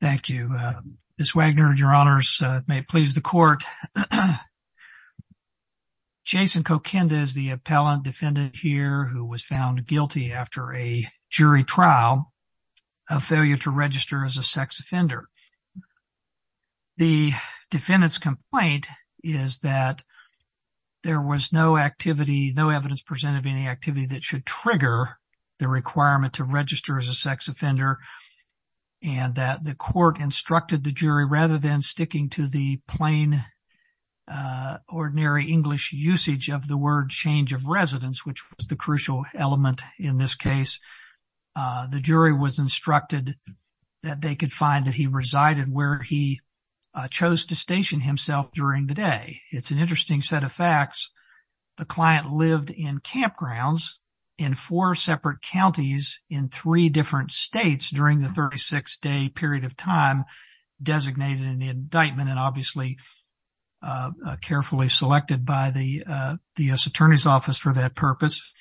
Thank you. Ms. Wagner, your honors, may it please the court. Jason Kokinda is the appellant defendant here who was found guilty after a jury trial of failure to register as a sex offender. The defendant's complaint is that there was no activity, no evidence presented of any activity that should trigger the court instructed the jury rather than sticking to the plain ordinary English usage of the word change of residence, which was the crucial element in this case. The jury was instructed that they could find that he resided where he chose to station himself during the day. It's an interesting set of facts. The client lived in campgrounds in four separate counties in three different states during the 36 day period of time designated in the indictment and obviously carefully selected by the U.S. Attorney's Office for that purpose.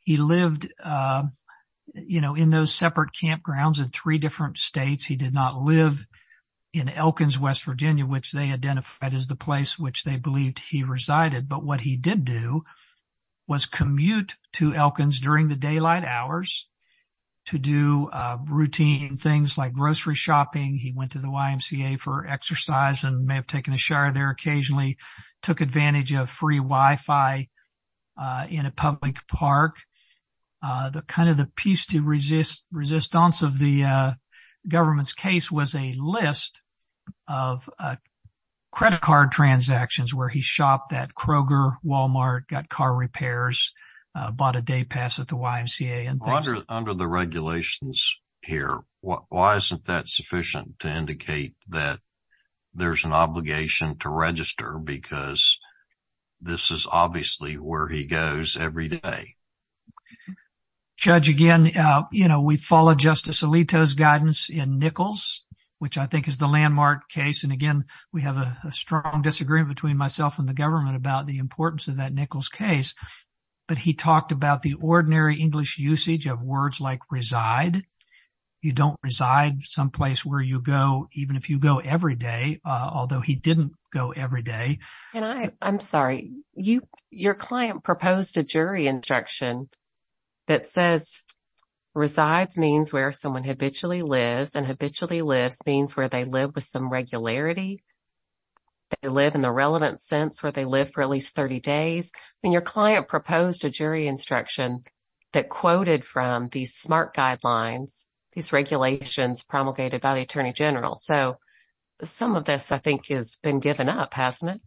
He lived, you know, in those separate campgrounds in three different states. He did not live in Elkins, West Virginia, which they identified as the place which they believed he resided. But what he did do was commute to Elkins during the day to do routine things like grocery shopping. He went to the YMCA for exercise and may have taken a shower there occasionally, took advantage of free Wi-Fi in a public park. The kind of the piece to resist resistance of the government's case was a list of credit card transactions where he shopped at Kroger, Walmart, got car repairs, bought a day pass at the YMCA and under the regulations here. Why isn't that sufficient to indicate that there's an obligation to register? Because this is obviously where he goes every day. Judge, again, you know, we follow Justice Alito's guidance in Nichols, which I think is the landmark case. And again, we have a strong disagreement between myself and the government about the importance of that Nichols case. But he did not reside. You don't reside someplace where you go, even if you go every day, although he didn't go every day. And I'm sorry, you your client proposed a jury instruction that says resides means where someone habitually lives and habitually lives means where they live with some regularity. They live in the relevant sense where they live for at least 30 days. And your client proposed a jury instruction that quoted from these SMART guidelines, these regulations promulgated by the attorney general. So some of this, I think, has been given up, hasn't it?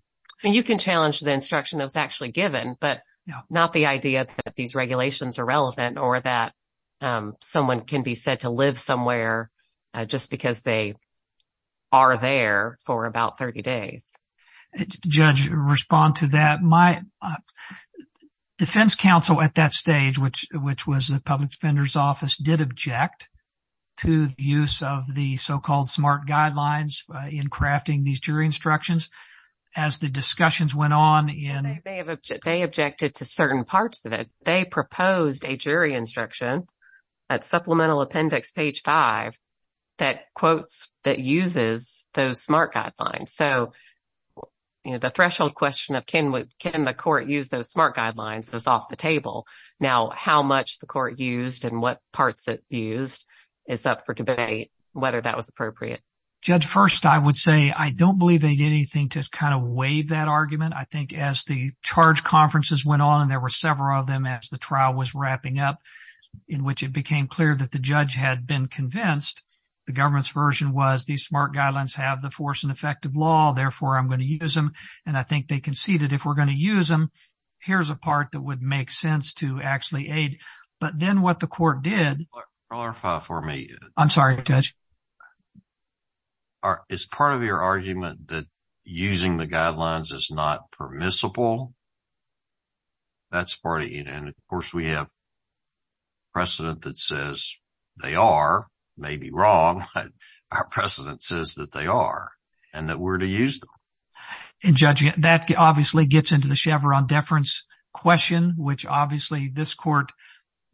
And you can challenge the instruction that was actually given, but not the idea that these regulations are relevant or that someone can be said to live somewhere just because they are there for about 30 days. Judge, respond to that. My defense counsel at that stage, which which was the public defender's office, did object to the use of the so-called SMART guidelines in crafting these jury instructions as the discussions went on in. They objected to certain parts of it. They proposed a jury instruction at Supplemental Appendix page five that quotes that uses those SMART guidelines. So, you know, the threshold question of can we can the court use those SMART guidelines is off the table. Now, how much the court used and what parts it used is up for debate, whether that was appropriate. Judge, first, I would say I don't believe they did anything to kind of waive that argument. I think as the charge conferences went on and there were several of them as the trial was wrapping up in which it became clear that the judge had been convinced the government's version was these SMART guidelines have the force and effect of law. Therefore, I'm going to use them. And I think they conceded if we're going to use them, here's a part that would make sense to actually aid. But then what the court did. Clarify for me. I'm sorry, Judge. It's part of your argument that using the guidelines is not permissible. That's part of it. And of course, we have precedent that says they are maybe wrong. Our precedent says that they are and that we're to use them. And judging that obviously gets into the Chevron deference question, which obviously this court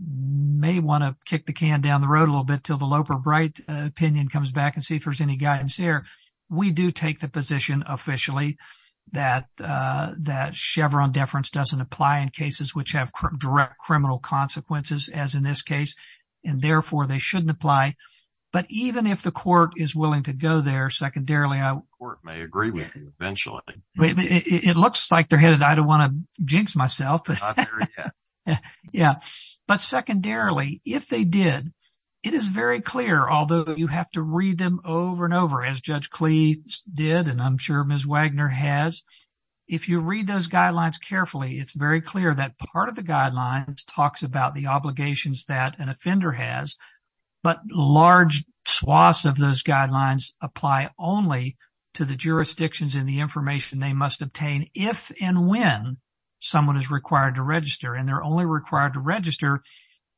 may want to kick the can down the road a little bit till the Loper Bright opinion comes back and see if there's any guidance there. We do take the position officially that that Chevron deference doesn't apply in cases which have direct criminal consequences, as in this case, and therefore they shouldn't apply. But even if the court is willing to go there, secondarily, a court may agree with you eventually. It looks like they're headed. I don't want to jinx myself. Yeah. But secondarily, if they did, it is very clear, although you have to read them over and over as Judge Cleese did and I'm sure Ms. Wagner has. If you read those guidelines carefully, it's very clear that part of the guidelines talks about the obligations that an offender has. But large swaths of those guidelines apply only to the jurisdictions in the information they must obtain if and when someone is required to register and they're only required to register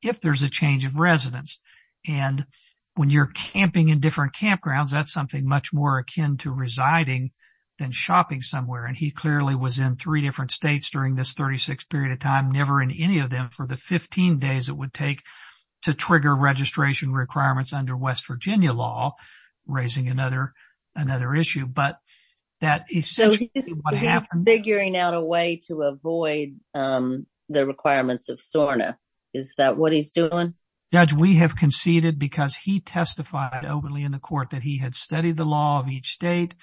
if there's a change of residence. And when you're camping in different campgrounds, that's something much more akin to residing than shopping somewhere. And he clearly was in three different states during this 36 period of time, never in any of them for the 15 days it would take to trigger registration requirements under West Virginia law, raising another another issue. But that is what happened. Figuring out a way to avoid the requirements of SORNA. Is that what he's doing? Judge, we have conceded because he testified openly in the court that he had studied the law of each state.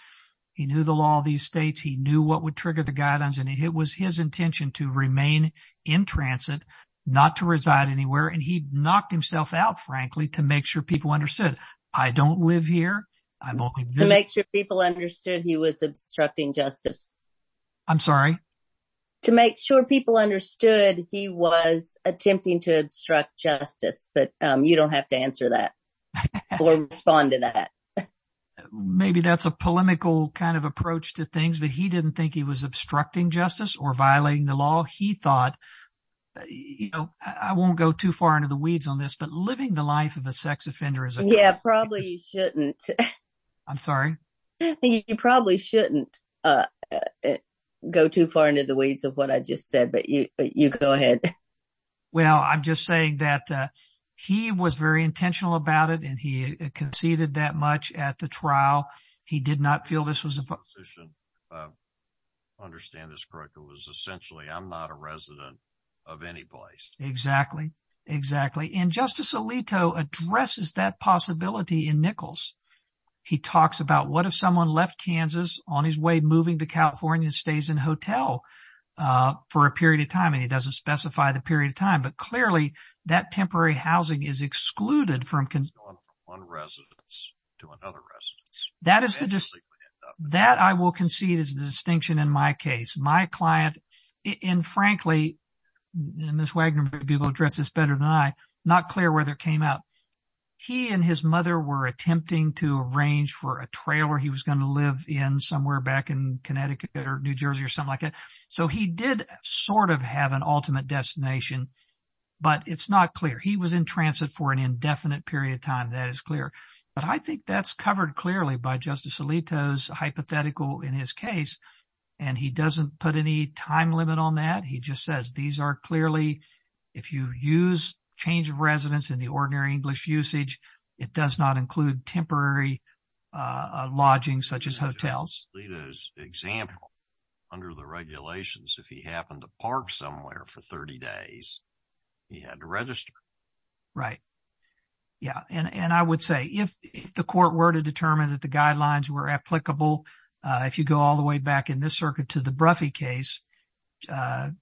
He knew the law of these states. He knew what would trigger the guidelines. And it was his intention to remain in transit, not to reside anywhere. And he knocked himself out, frankly, to make sure people understood. I don't live here. I make sure people understood he was obstructing justice. I'm sorry to make sure people understood he was attempting to obstruct justice. But you don't have to answer that or respond to that. Maybe that's a polemical kind of approach to things, but he didn't think he was obstructing justice or violating the law. He thought, you know, I won't go too far into the weeds on this, but living the life of a sex offender is. Yeah, probably you shouldn't. I'm sorry. You probably shouldn't go too far into the weeds of what I just said. But you go ahead. Well, I'm just saying that he was very intentional about it and he conceded that much at the trial. He did not feel this was a decision. Understand this correctly was essentially I'm not a resident of any place. Exactly. Exactly. And Justice Alito addresses that possibility in Nichols. He talks about what if someone left Kansas on his way moving to California, stays in hotel for a period of time and he doesn't specify the period of time. But clearly that temporary housing is excluded from one residence. To another residence, that is the just that I will concede is the distinction in my case, my client and frankly, Ms. Wagner, people address this better than I not clear where that came out. He and his mother were attempting to arrange for a trailer. He was going to live in somewhere back in Connecticut or New Jersey or something like that. So he did sort of have an ultimate destination, but it's not clear he was in transit for an indefinite period of time. That is clear. But I think that's covered clearly by Justice Alito's hypothetical in his case. And he doesn't put any time limit on that. He just says these are clearly if you use change of residence in the ordinary English usage, it does not include temporary lodging such as hotels. Alito's example under the regulations, if he happened to park somewhere for 30 days, he had to register. Right. Yeah, and I would say if if the court were to determine that the guidelines were applicable, if you go all the way back in this circuit to the Bruffy case,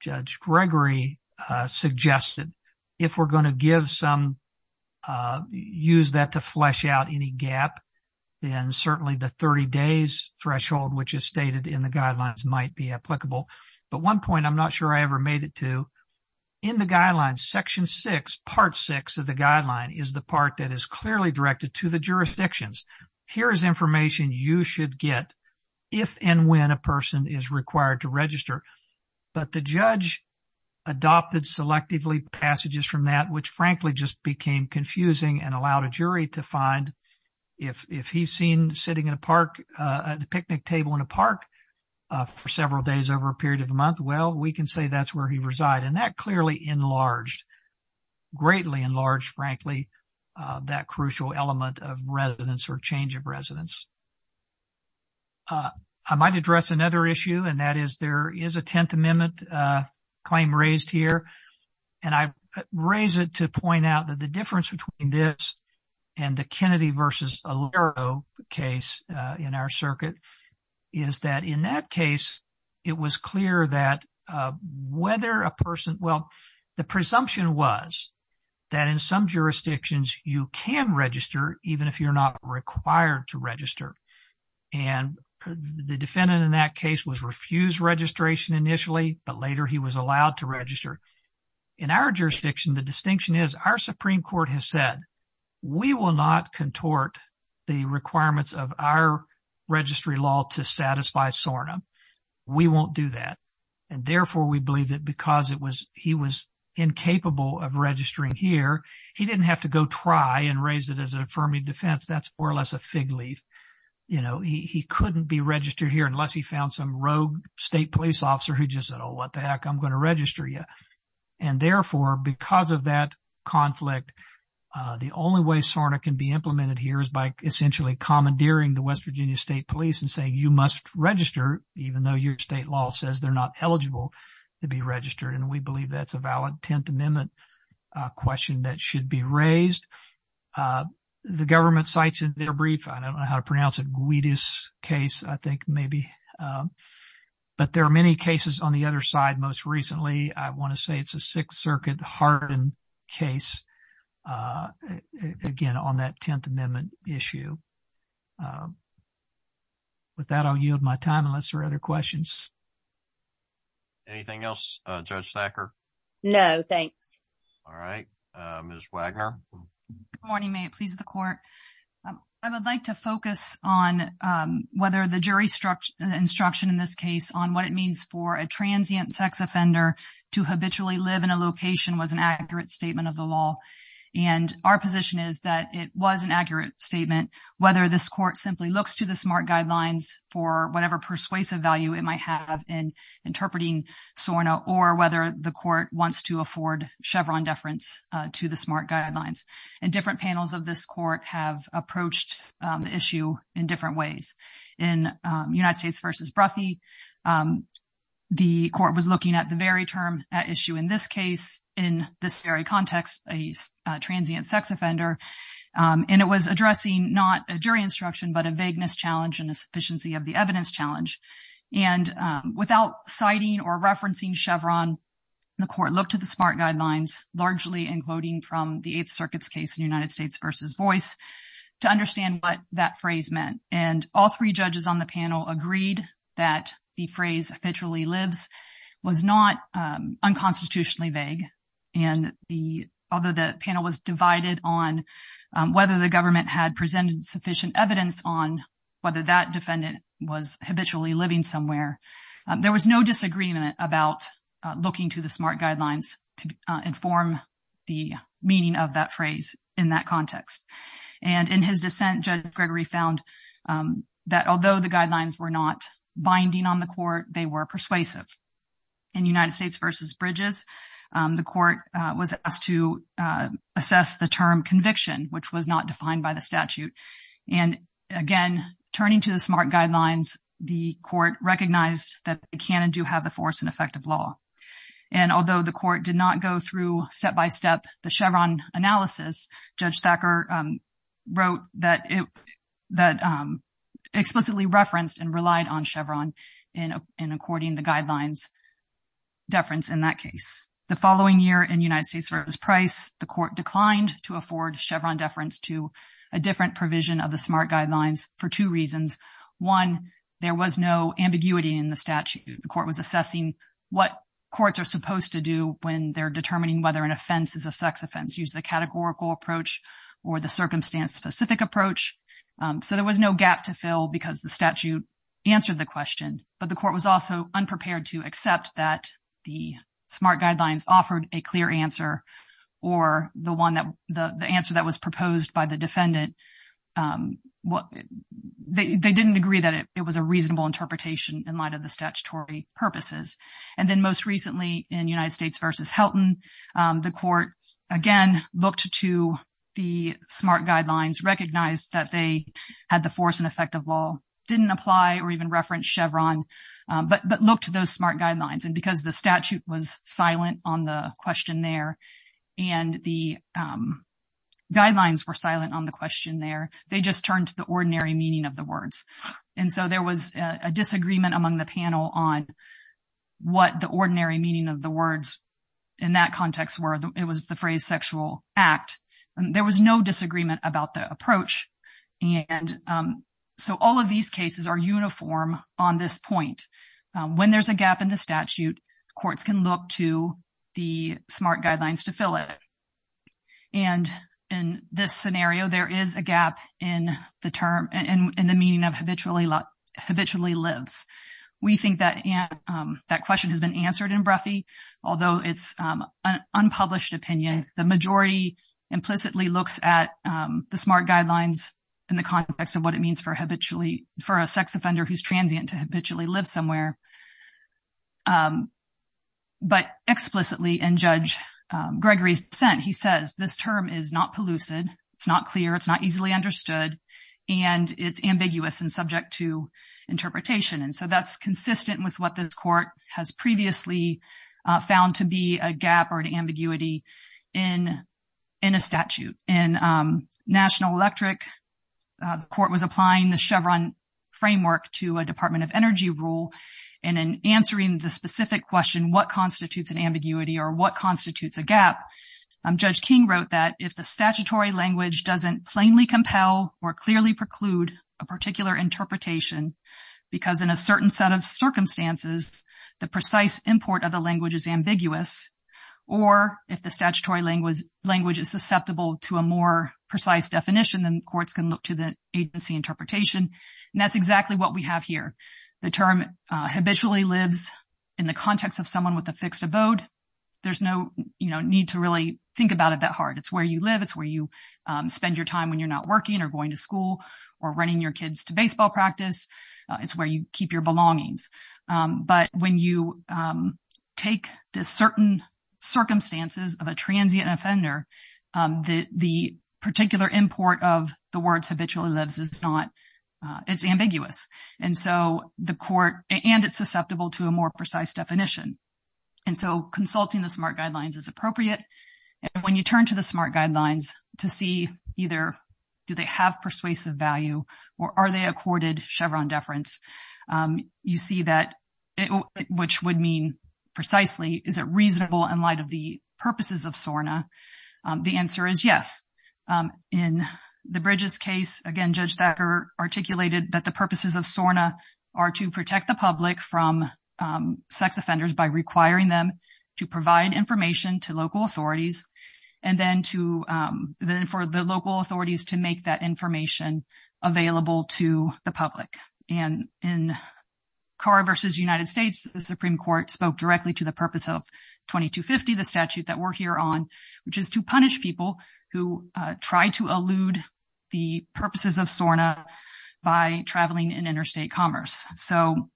Judge Gregory suggested if we're going to give some use that to flesh out any gap, then certainly the 30 days threshold, which is stated in the guidelines, might be applicable. But one point I'm not sure I ever made it to in the guidelines, Section six, part six of the guideline is the part that is clearly directed to the jurisdictions. Here is information you should get if and when a person is required to register. But the judge adopted selectively passages from that, which frankly just became confusing and allowed a jury to find if if he's seen sitting in a park at the picnic table in a park for several days over a period of a month, well, we can say that's where he reside. And that clearly enlarged, greatly enlarged, frankly, that crucial element of residence or change of residence. I might address another issue, and that is there is a Tenth Amendment claim raised here, and I raise it to point out that the difference between this and the Kennedy versus O'Leary case in our circuit is that in that case, it was clear that whether a person, well, the presumption was that in some jurisdictions you can register even if you're not required to register. And the defendant in that case was refused registration initially, but later he was allowed to register. In our jurisdiction, the distinction is our Supreme Court has said we will not contort the requirements of our registry law to satisfy SORNA. We won't do that. And therefore, we believe that because it was he was incapable of registering here, he didn't have to go try and raise it as an affirming defense. That's more or less a fig leaf. You know, he couldn't be registered here unless he found some rogue state police officer who just said, oh, what the heck? I'm going to register you. And therefore, because of that conflict, the only way SORNA can be implemented here is by essentially commandeering the West Virginia State Police and saying you must register, even though your state law says they're not eligible to be registered. And we believe that's a valid Tenth Amendment question that should be raised. The government cites in their brief, I don't know how to pronounce it, Guidis case, I think maybe. But there are many cases on the other side. Most recently, I want to say it's a Sixth Circuit Harden case, again, on that Tenth Amendment issue. With that, I'll yield my time unless there are other questions. Anything else, Judge Thacker? No, thanks. All right, Ms. Wagner. Good morning, may it please the court. I would like to focus on whether the jury instruction in this case on what it means for a transient sex offender to habitually live in a location was an accurate statement of the law. And our position is that it was an accurate statement, whether this court simply looks to the SMART guidelines for whatever persuasive value it might have in interpreting SORNA or whether the court wants to afford Chevron deference to the SMART guidelines. And different panels of this court have approached the issue in different ways. In United States v. Bruffy, the court was looking at the very term at issue in this case, in this very context, a transient sex offender. And it was addressing not a jury instruction, but a vagueness challenge and a sufficiency of the evidence challenge. And without citing or referencing Chevron, the court looked to the SMART guidelines, largely including from the Eighth Circuit's case in United States v. Boyce, to understand what that phrase meant. And all three judges on the panel agreed that the phrase habitually lives was not unconstitutionally vague. And although the panel was divided on whether the government had presented sufficient evidence on whether that defendant was habitually living somewhere, there was no disagreement about looking to the SMART guidelines to inform the meaning of that context. And in his dissent, Judge Gregory found that although the guidelines were not binding on the court, they were persuasive. In United States v. Bridges, the court was asked to assess the term conviction, which was not defined by the statute. And again, turning to the SMART guidelines, the court recognized that it can and do have the force and effect of law. And although the court did not go through step by step the Chevron analysis, Judge Thacker wrote that it explicitly referenced and relied on Chevron in according to the guidelines deference in that case. The following year in United States v. Price, the court declined to afford Chevron deference to a different provision of the SMART guidelines for two reasons. One, there was no ambiguity in the statute. The court was assessing what courts are supposed to do when they're determining whether an offense is a sex offense, use the categorical approach or the circumstance specific approach. So there was no gap to fill because the statute answered the question. But the court was also unprepared to accept that the SMART guidelines offered a clear answer or the one that the answer that was proposed by the defendant. They didn't agree that it was a reasonable interpretation in light of the statutory purposes. And then most recently in United States v. Helton, the court again looked to the SMART guidelines, recognized that they had the force and effect of law, didn't apply or even reference Chevron, but looked to those SMART guidelines. And because the statute was silent on the question there and the guidelines were silent on the question there, they just turned to the ordinary meaning of the words. And so there was a disagreement among the panel on what the ordinary meaning of the words in that context were. It was the phrase sexual act. There was no disagreement about the approach. And so all of these cases are uniform on this point. When there's a gap in the statute, courts can look to the SMART guidelines to fill it. And in this scenario, there is a gap in the term and in the meaning of habitually lives. We think that that question has been answered in Broughy, although it's an unpublished opinion. The majority implicitly looks at the SMART guidelines in the context of what it means for habitually for a sex offender who's transient to habitually live somewhere. But explicitly in Judge Gregory's dissent, he says this term is not pellucid, it's not clear, it's not easily understood, and it's ambiguous and subject to interpretation. And so that's consistent with what this court has previously found to be a gap or an ambiguity in a statute. In National Electric, the court was applying the Chevron framework to a Department of Energy rule. And in answering the specific question, what constitutes an ambiguity or what constitutes a gap, Judge King wrote that if the statutory language doesn't plainly compel or clearly preclude a particular interpretation because in a certain set of circumstances, the precise import of the language is ambiguous, or if the statutory language is susceptible to a more precise definition, then courts can look to the agency interpretation. And that's exactly what we have here. The term habitually lives in the context of someone with a fixed abode. There's no need to really think about it that hard. It's where you live. It's where you spend your time when you're not working or going to school or running your kids to baseball practice. It's where you keep your belongings. But when you take the certain circumstances of a transient offender, the particular import of the words habitually lives is not it's ambiguous. And so the court and it's susceptible to a more precise definition. And so consulting the SMART guidelines is appropriate. When you turn to the SMART guidelines to see either do they have persuasive value or are they accorded Chevron deference, you see that which would mean precisely is it reasonable in light of the purposes of SORNA? The answer is yes. In the Bridges case, again, Judge Thacker articulated that the purposes of SORNA are to protect the public from sex offenders by requiring them to provide information to local authorities and then for the local authorities to make that information available to the public. And in Carr versus United States, the Supreme Court spoke directly to the purpose of 2250, the statute that we're here on, which is to punish people who try to elude the purposes of SORNA by traveling in interstate commerce. So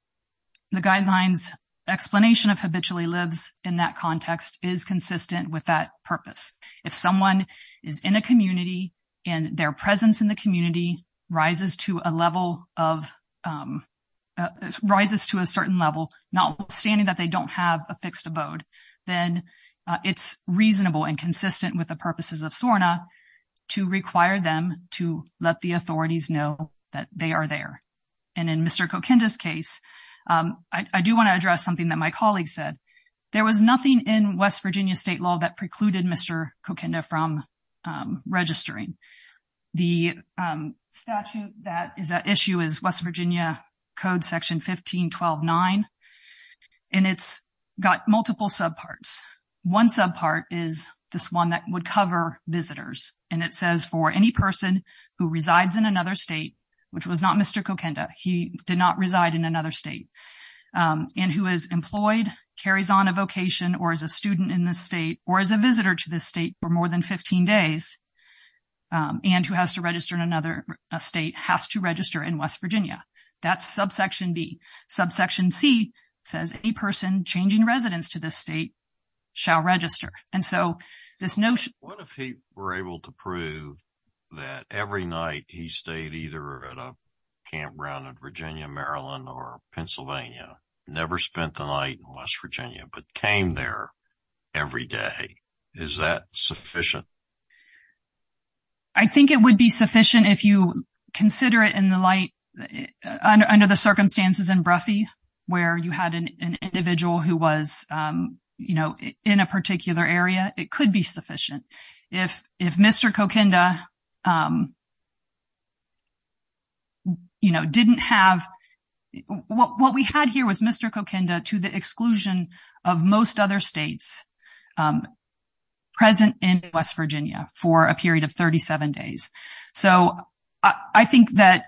the guidelines explanation of habitually lives in that context is consistent with that purpose. If someone is in a community and their presence in the community rises to a certain level, notwithstanding that they don't have a fixed abode, then it's reasonable and consistent with the purposes of SORNA to require them to let the authorities know that they are there. And in Mr. Kokinda's case, I do want to address something that my colleague said. There was nothing in West Virginia state law that precluded Mr. Kokinda from registering. The statute that is at issue is West Virginia Code Section 15-12-9, and it's got multiple subparts. One subpart is this one that would cover visitors, and it says for any person who resides in another state, which was not Mr. Kokinda, he did not reside in another state, and who is employed, carries on a vocation, or is a student in this state, or is a visitor to this state for more than 15 days, and who has to register in another state, has to register in West Virginia. That's subsection B. Subsection C says any person changing residence to this state shall register. And so this notion… What if he were able to prove that every night he stayed either at a campground in Virginia, Maryland, or Pennsylvania, never spent the night in West Virginia, but came there every day? Is that sufficient? I think it would be sufficient if you consider it in the light… Under the circumstances in Broughy, where you had an individual who was, you know, in a particular area, it could be sufficient. If Mr. Kokinda, you know, didn't have… What we had here was Mr. Kokinda to the exclusion of most other states present in West Virginia for a period of 37 days. So I think that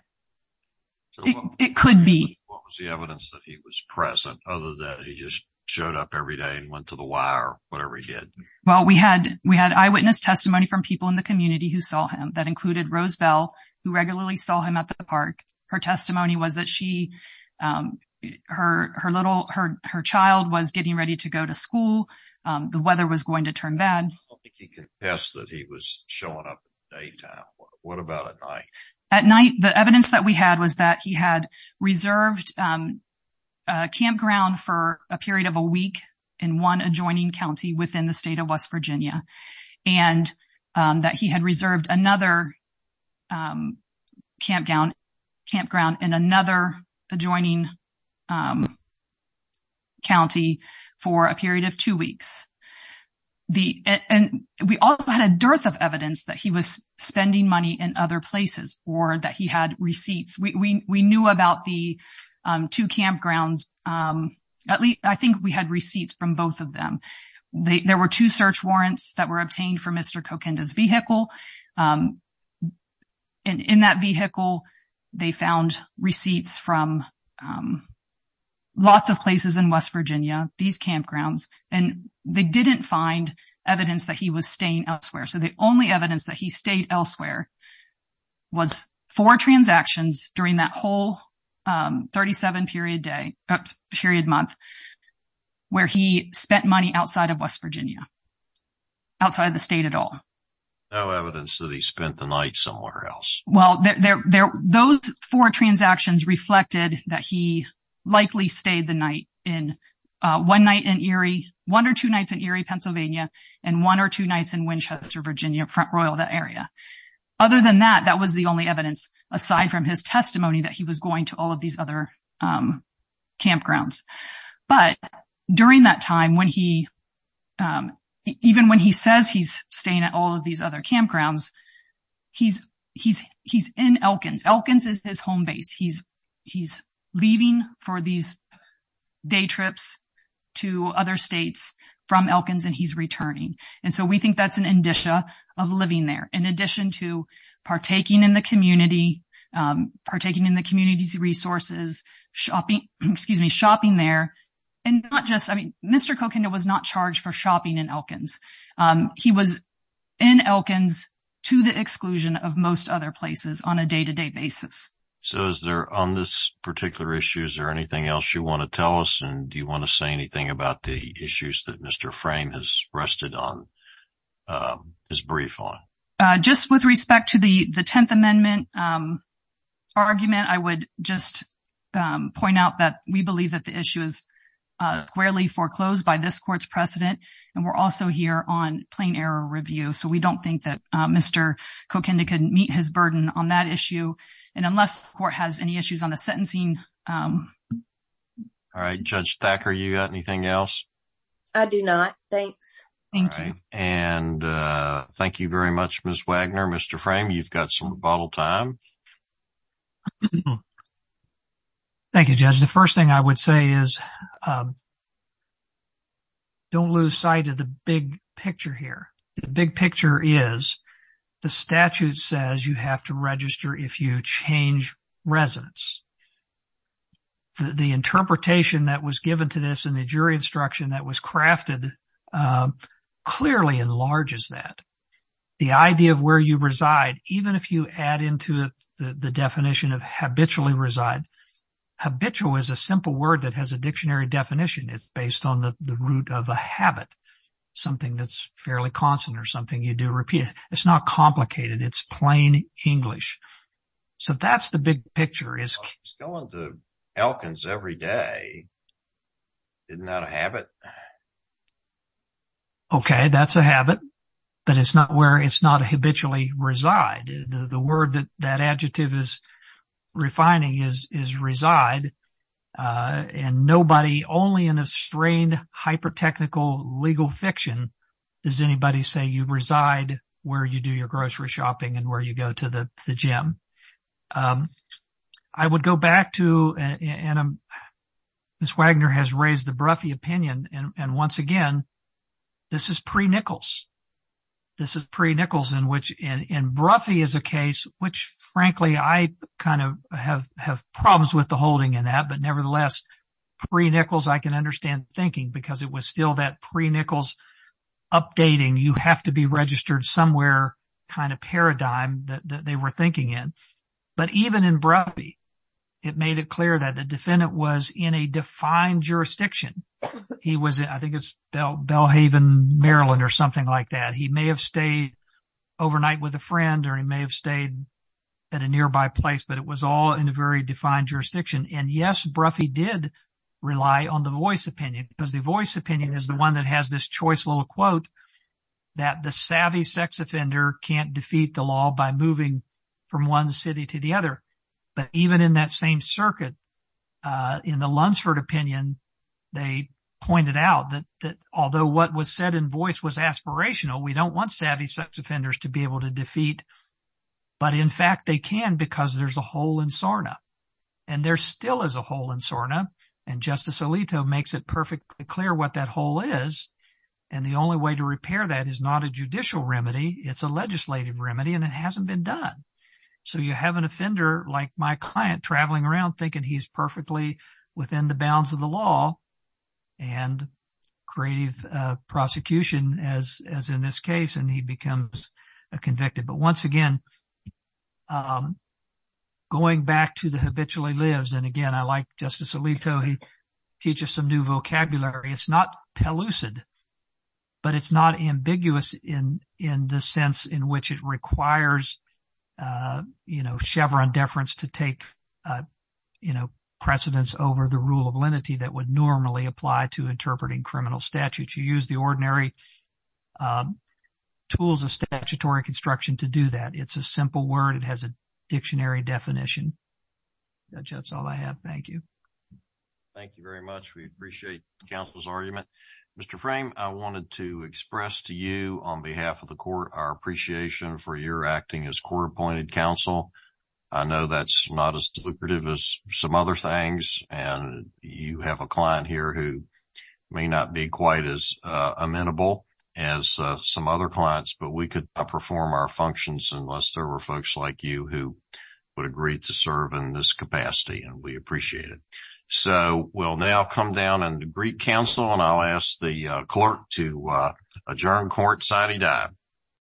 it could be… What was the evidence that he was present, other than he just showed up every day and went to the Y or whatever he did? Well, we had eyewitness testimony from people in the community who saw him. That included her child was getting ready to go to school. The weather was going to turn bad. I don't think he confessed that he was showing up at daytime. What about at night? At night, the evidence that we had was that he had reserved a campground for a period of a week in one adjoining county within the state of West Virginia, and that he had reserved another campground in another adjoining county for a period of two weeks. And we also had a dearth of evidence that he was spending money in other places or that he had receipts. We knew about the two campgrounds. I think we had receipts from both of them. There were two search warrants that were obtained for Mr. Tokenda's vehicle. In that vehicle, they found receipts from lots of places in West Virginia, these campgrounds, and they didn't find evidence that he was staying elsewhere. So the only evidence that he stayed elsewhere was four transactions during that whole 37-period month where he spent money outside of West Virginia, outside of the state at all. No evidence that he spent the night somewhere else. Well, those four transactions reflected that he likely stayed the night in one night in Erie, one or two nights in Erie, Pennsylvania, and one or two nights in Winchester, Virginia, Front Royal, that area. Other than that, that was the only evidence, aside from his testimony, that he was going to all of these other campgrounds. But during that time, even when he says he's staying at all of these other campgrounds, he's in Elkins. Elkins is his home base. He's leaving for these day trips to other states from Elkins and he's returning. And so we think that's an indicia of living there, in addition to partaking in the community, partaking in the community's resources, shopping there. And not just, I mean, Mr. Kokenda was not charged for shopping in Elkins. He was in Elkins to the exclusion of most other places on a day-to-day basis. So is there, on this particular issue, is there anything else you want to tell us? And do you want to say anything about the issues that Mr. Frame has rested on, his brief on? Just with respect to the Tenth Amendment argument, I would just point out that we believe that the issue is squarely foreclosed by this court's precedent. And we're also here on plain error review. So we don't think that Mr. Kokenda could meet his burden on that issue. And unless the court has any issues on the sentencing... All right. Judge Thacker, you got anything else? I do not. Thanks. Thank you. And thank you very much, Ms. Wagner. Mr. Frame, you've got some rebuttal time. Thank you, Judge. The first thing I would say is don't lose sight of the big picture here. The big picture is the statute says you have to register if you change residence. The interpretation that was given to this and the jury instruction that was crafted clearly enlarges that. The idea of where you reside, even if you add into the definition of habitually reside... Habitual is a simple word that has a dictionary definition. It's based on the root of a habit, something that's fairly constant or something you do repeatedly. It's not complicated. It's plain English. So that's the big picture. I was going to Elkins every day. Isn't that a habit? OK, that's a habit, but it's not where it's not habitually reside. The word that that adjective is refining is reside. And nobody, only in a strained, hyper-technical legal fiction, does anybody say you reside where you do your grocery shopping and where you go to the gym. I would go back to, and Ms. Wagner has raised the Broughy opinion, and once again, this is pre-Nichols. This is pre-Nichols in which in Broughy is a case which, frankly, I kind of have problems with the holding in that. But nevertheless, pre-Nichols, I can understand thinking because it was still that pre-Nichols updating. You have to be registered somewhere kind of paradigm that they were thinking in. But even in Broughy, it made it clear that the defendant was in a defined jurisdiction. He was, I think it's Belhaven, Maryland or something like that. He may have stayed overnight with a friend or he may have stayed at a nearby place, but it was all in a very defined jurisdiction. And yes, Broughy did rely on the voice opinion because the savvy sex offender can't defeat the law by moving from one city to the other. But even in that same circuit, in the Lunsford opinion, they pointed out that although what was said in voice was aspirational, we don't want savvy sex offenders to be able to defeat. But in fact, they can because there's a hole in SORNA and there still is a hole in SORNA. And Justice Alito makes it perfectly clear what that hole is. And the only way to repair that is not a judicial remedy. It's a legislative remedy and it hasn't been done. So you have an offender like my client traveling around thinking he's perfectly within the bounds of the law and creative prosecution as in this case. And he becomes a convicted. But once again, going back to the habitually lives. And again, I like Justice Alito, he teaches some new vocabulary. It's not pellucid, but it's not ambiguous in the sense in which it requires, you know, Chevron deference to take, you know, precedence over the rule of lenity that would normally apply to interpreting criminal statutes. You use the ordinary tools of statutory construction to do that. It's a simple word. It has a Thank you very much. We appreciate the council's argument. Mr. Frame, I wanted to express to you on behalf of the court, our appreciation for your acting as court appointed counsel. I know that's not as lucrative as some other things. And you have a client here who may not be quite as amenable as some other clients, but we could perform our functions unless there were folks like you who would agree to serve in this capacity and we appreciate it. So we'll now come down on the Greek council and I'll ask the clerk to adjourn court signing down.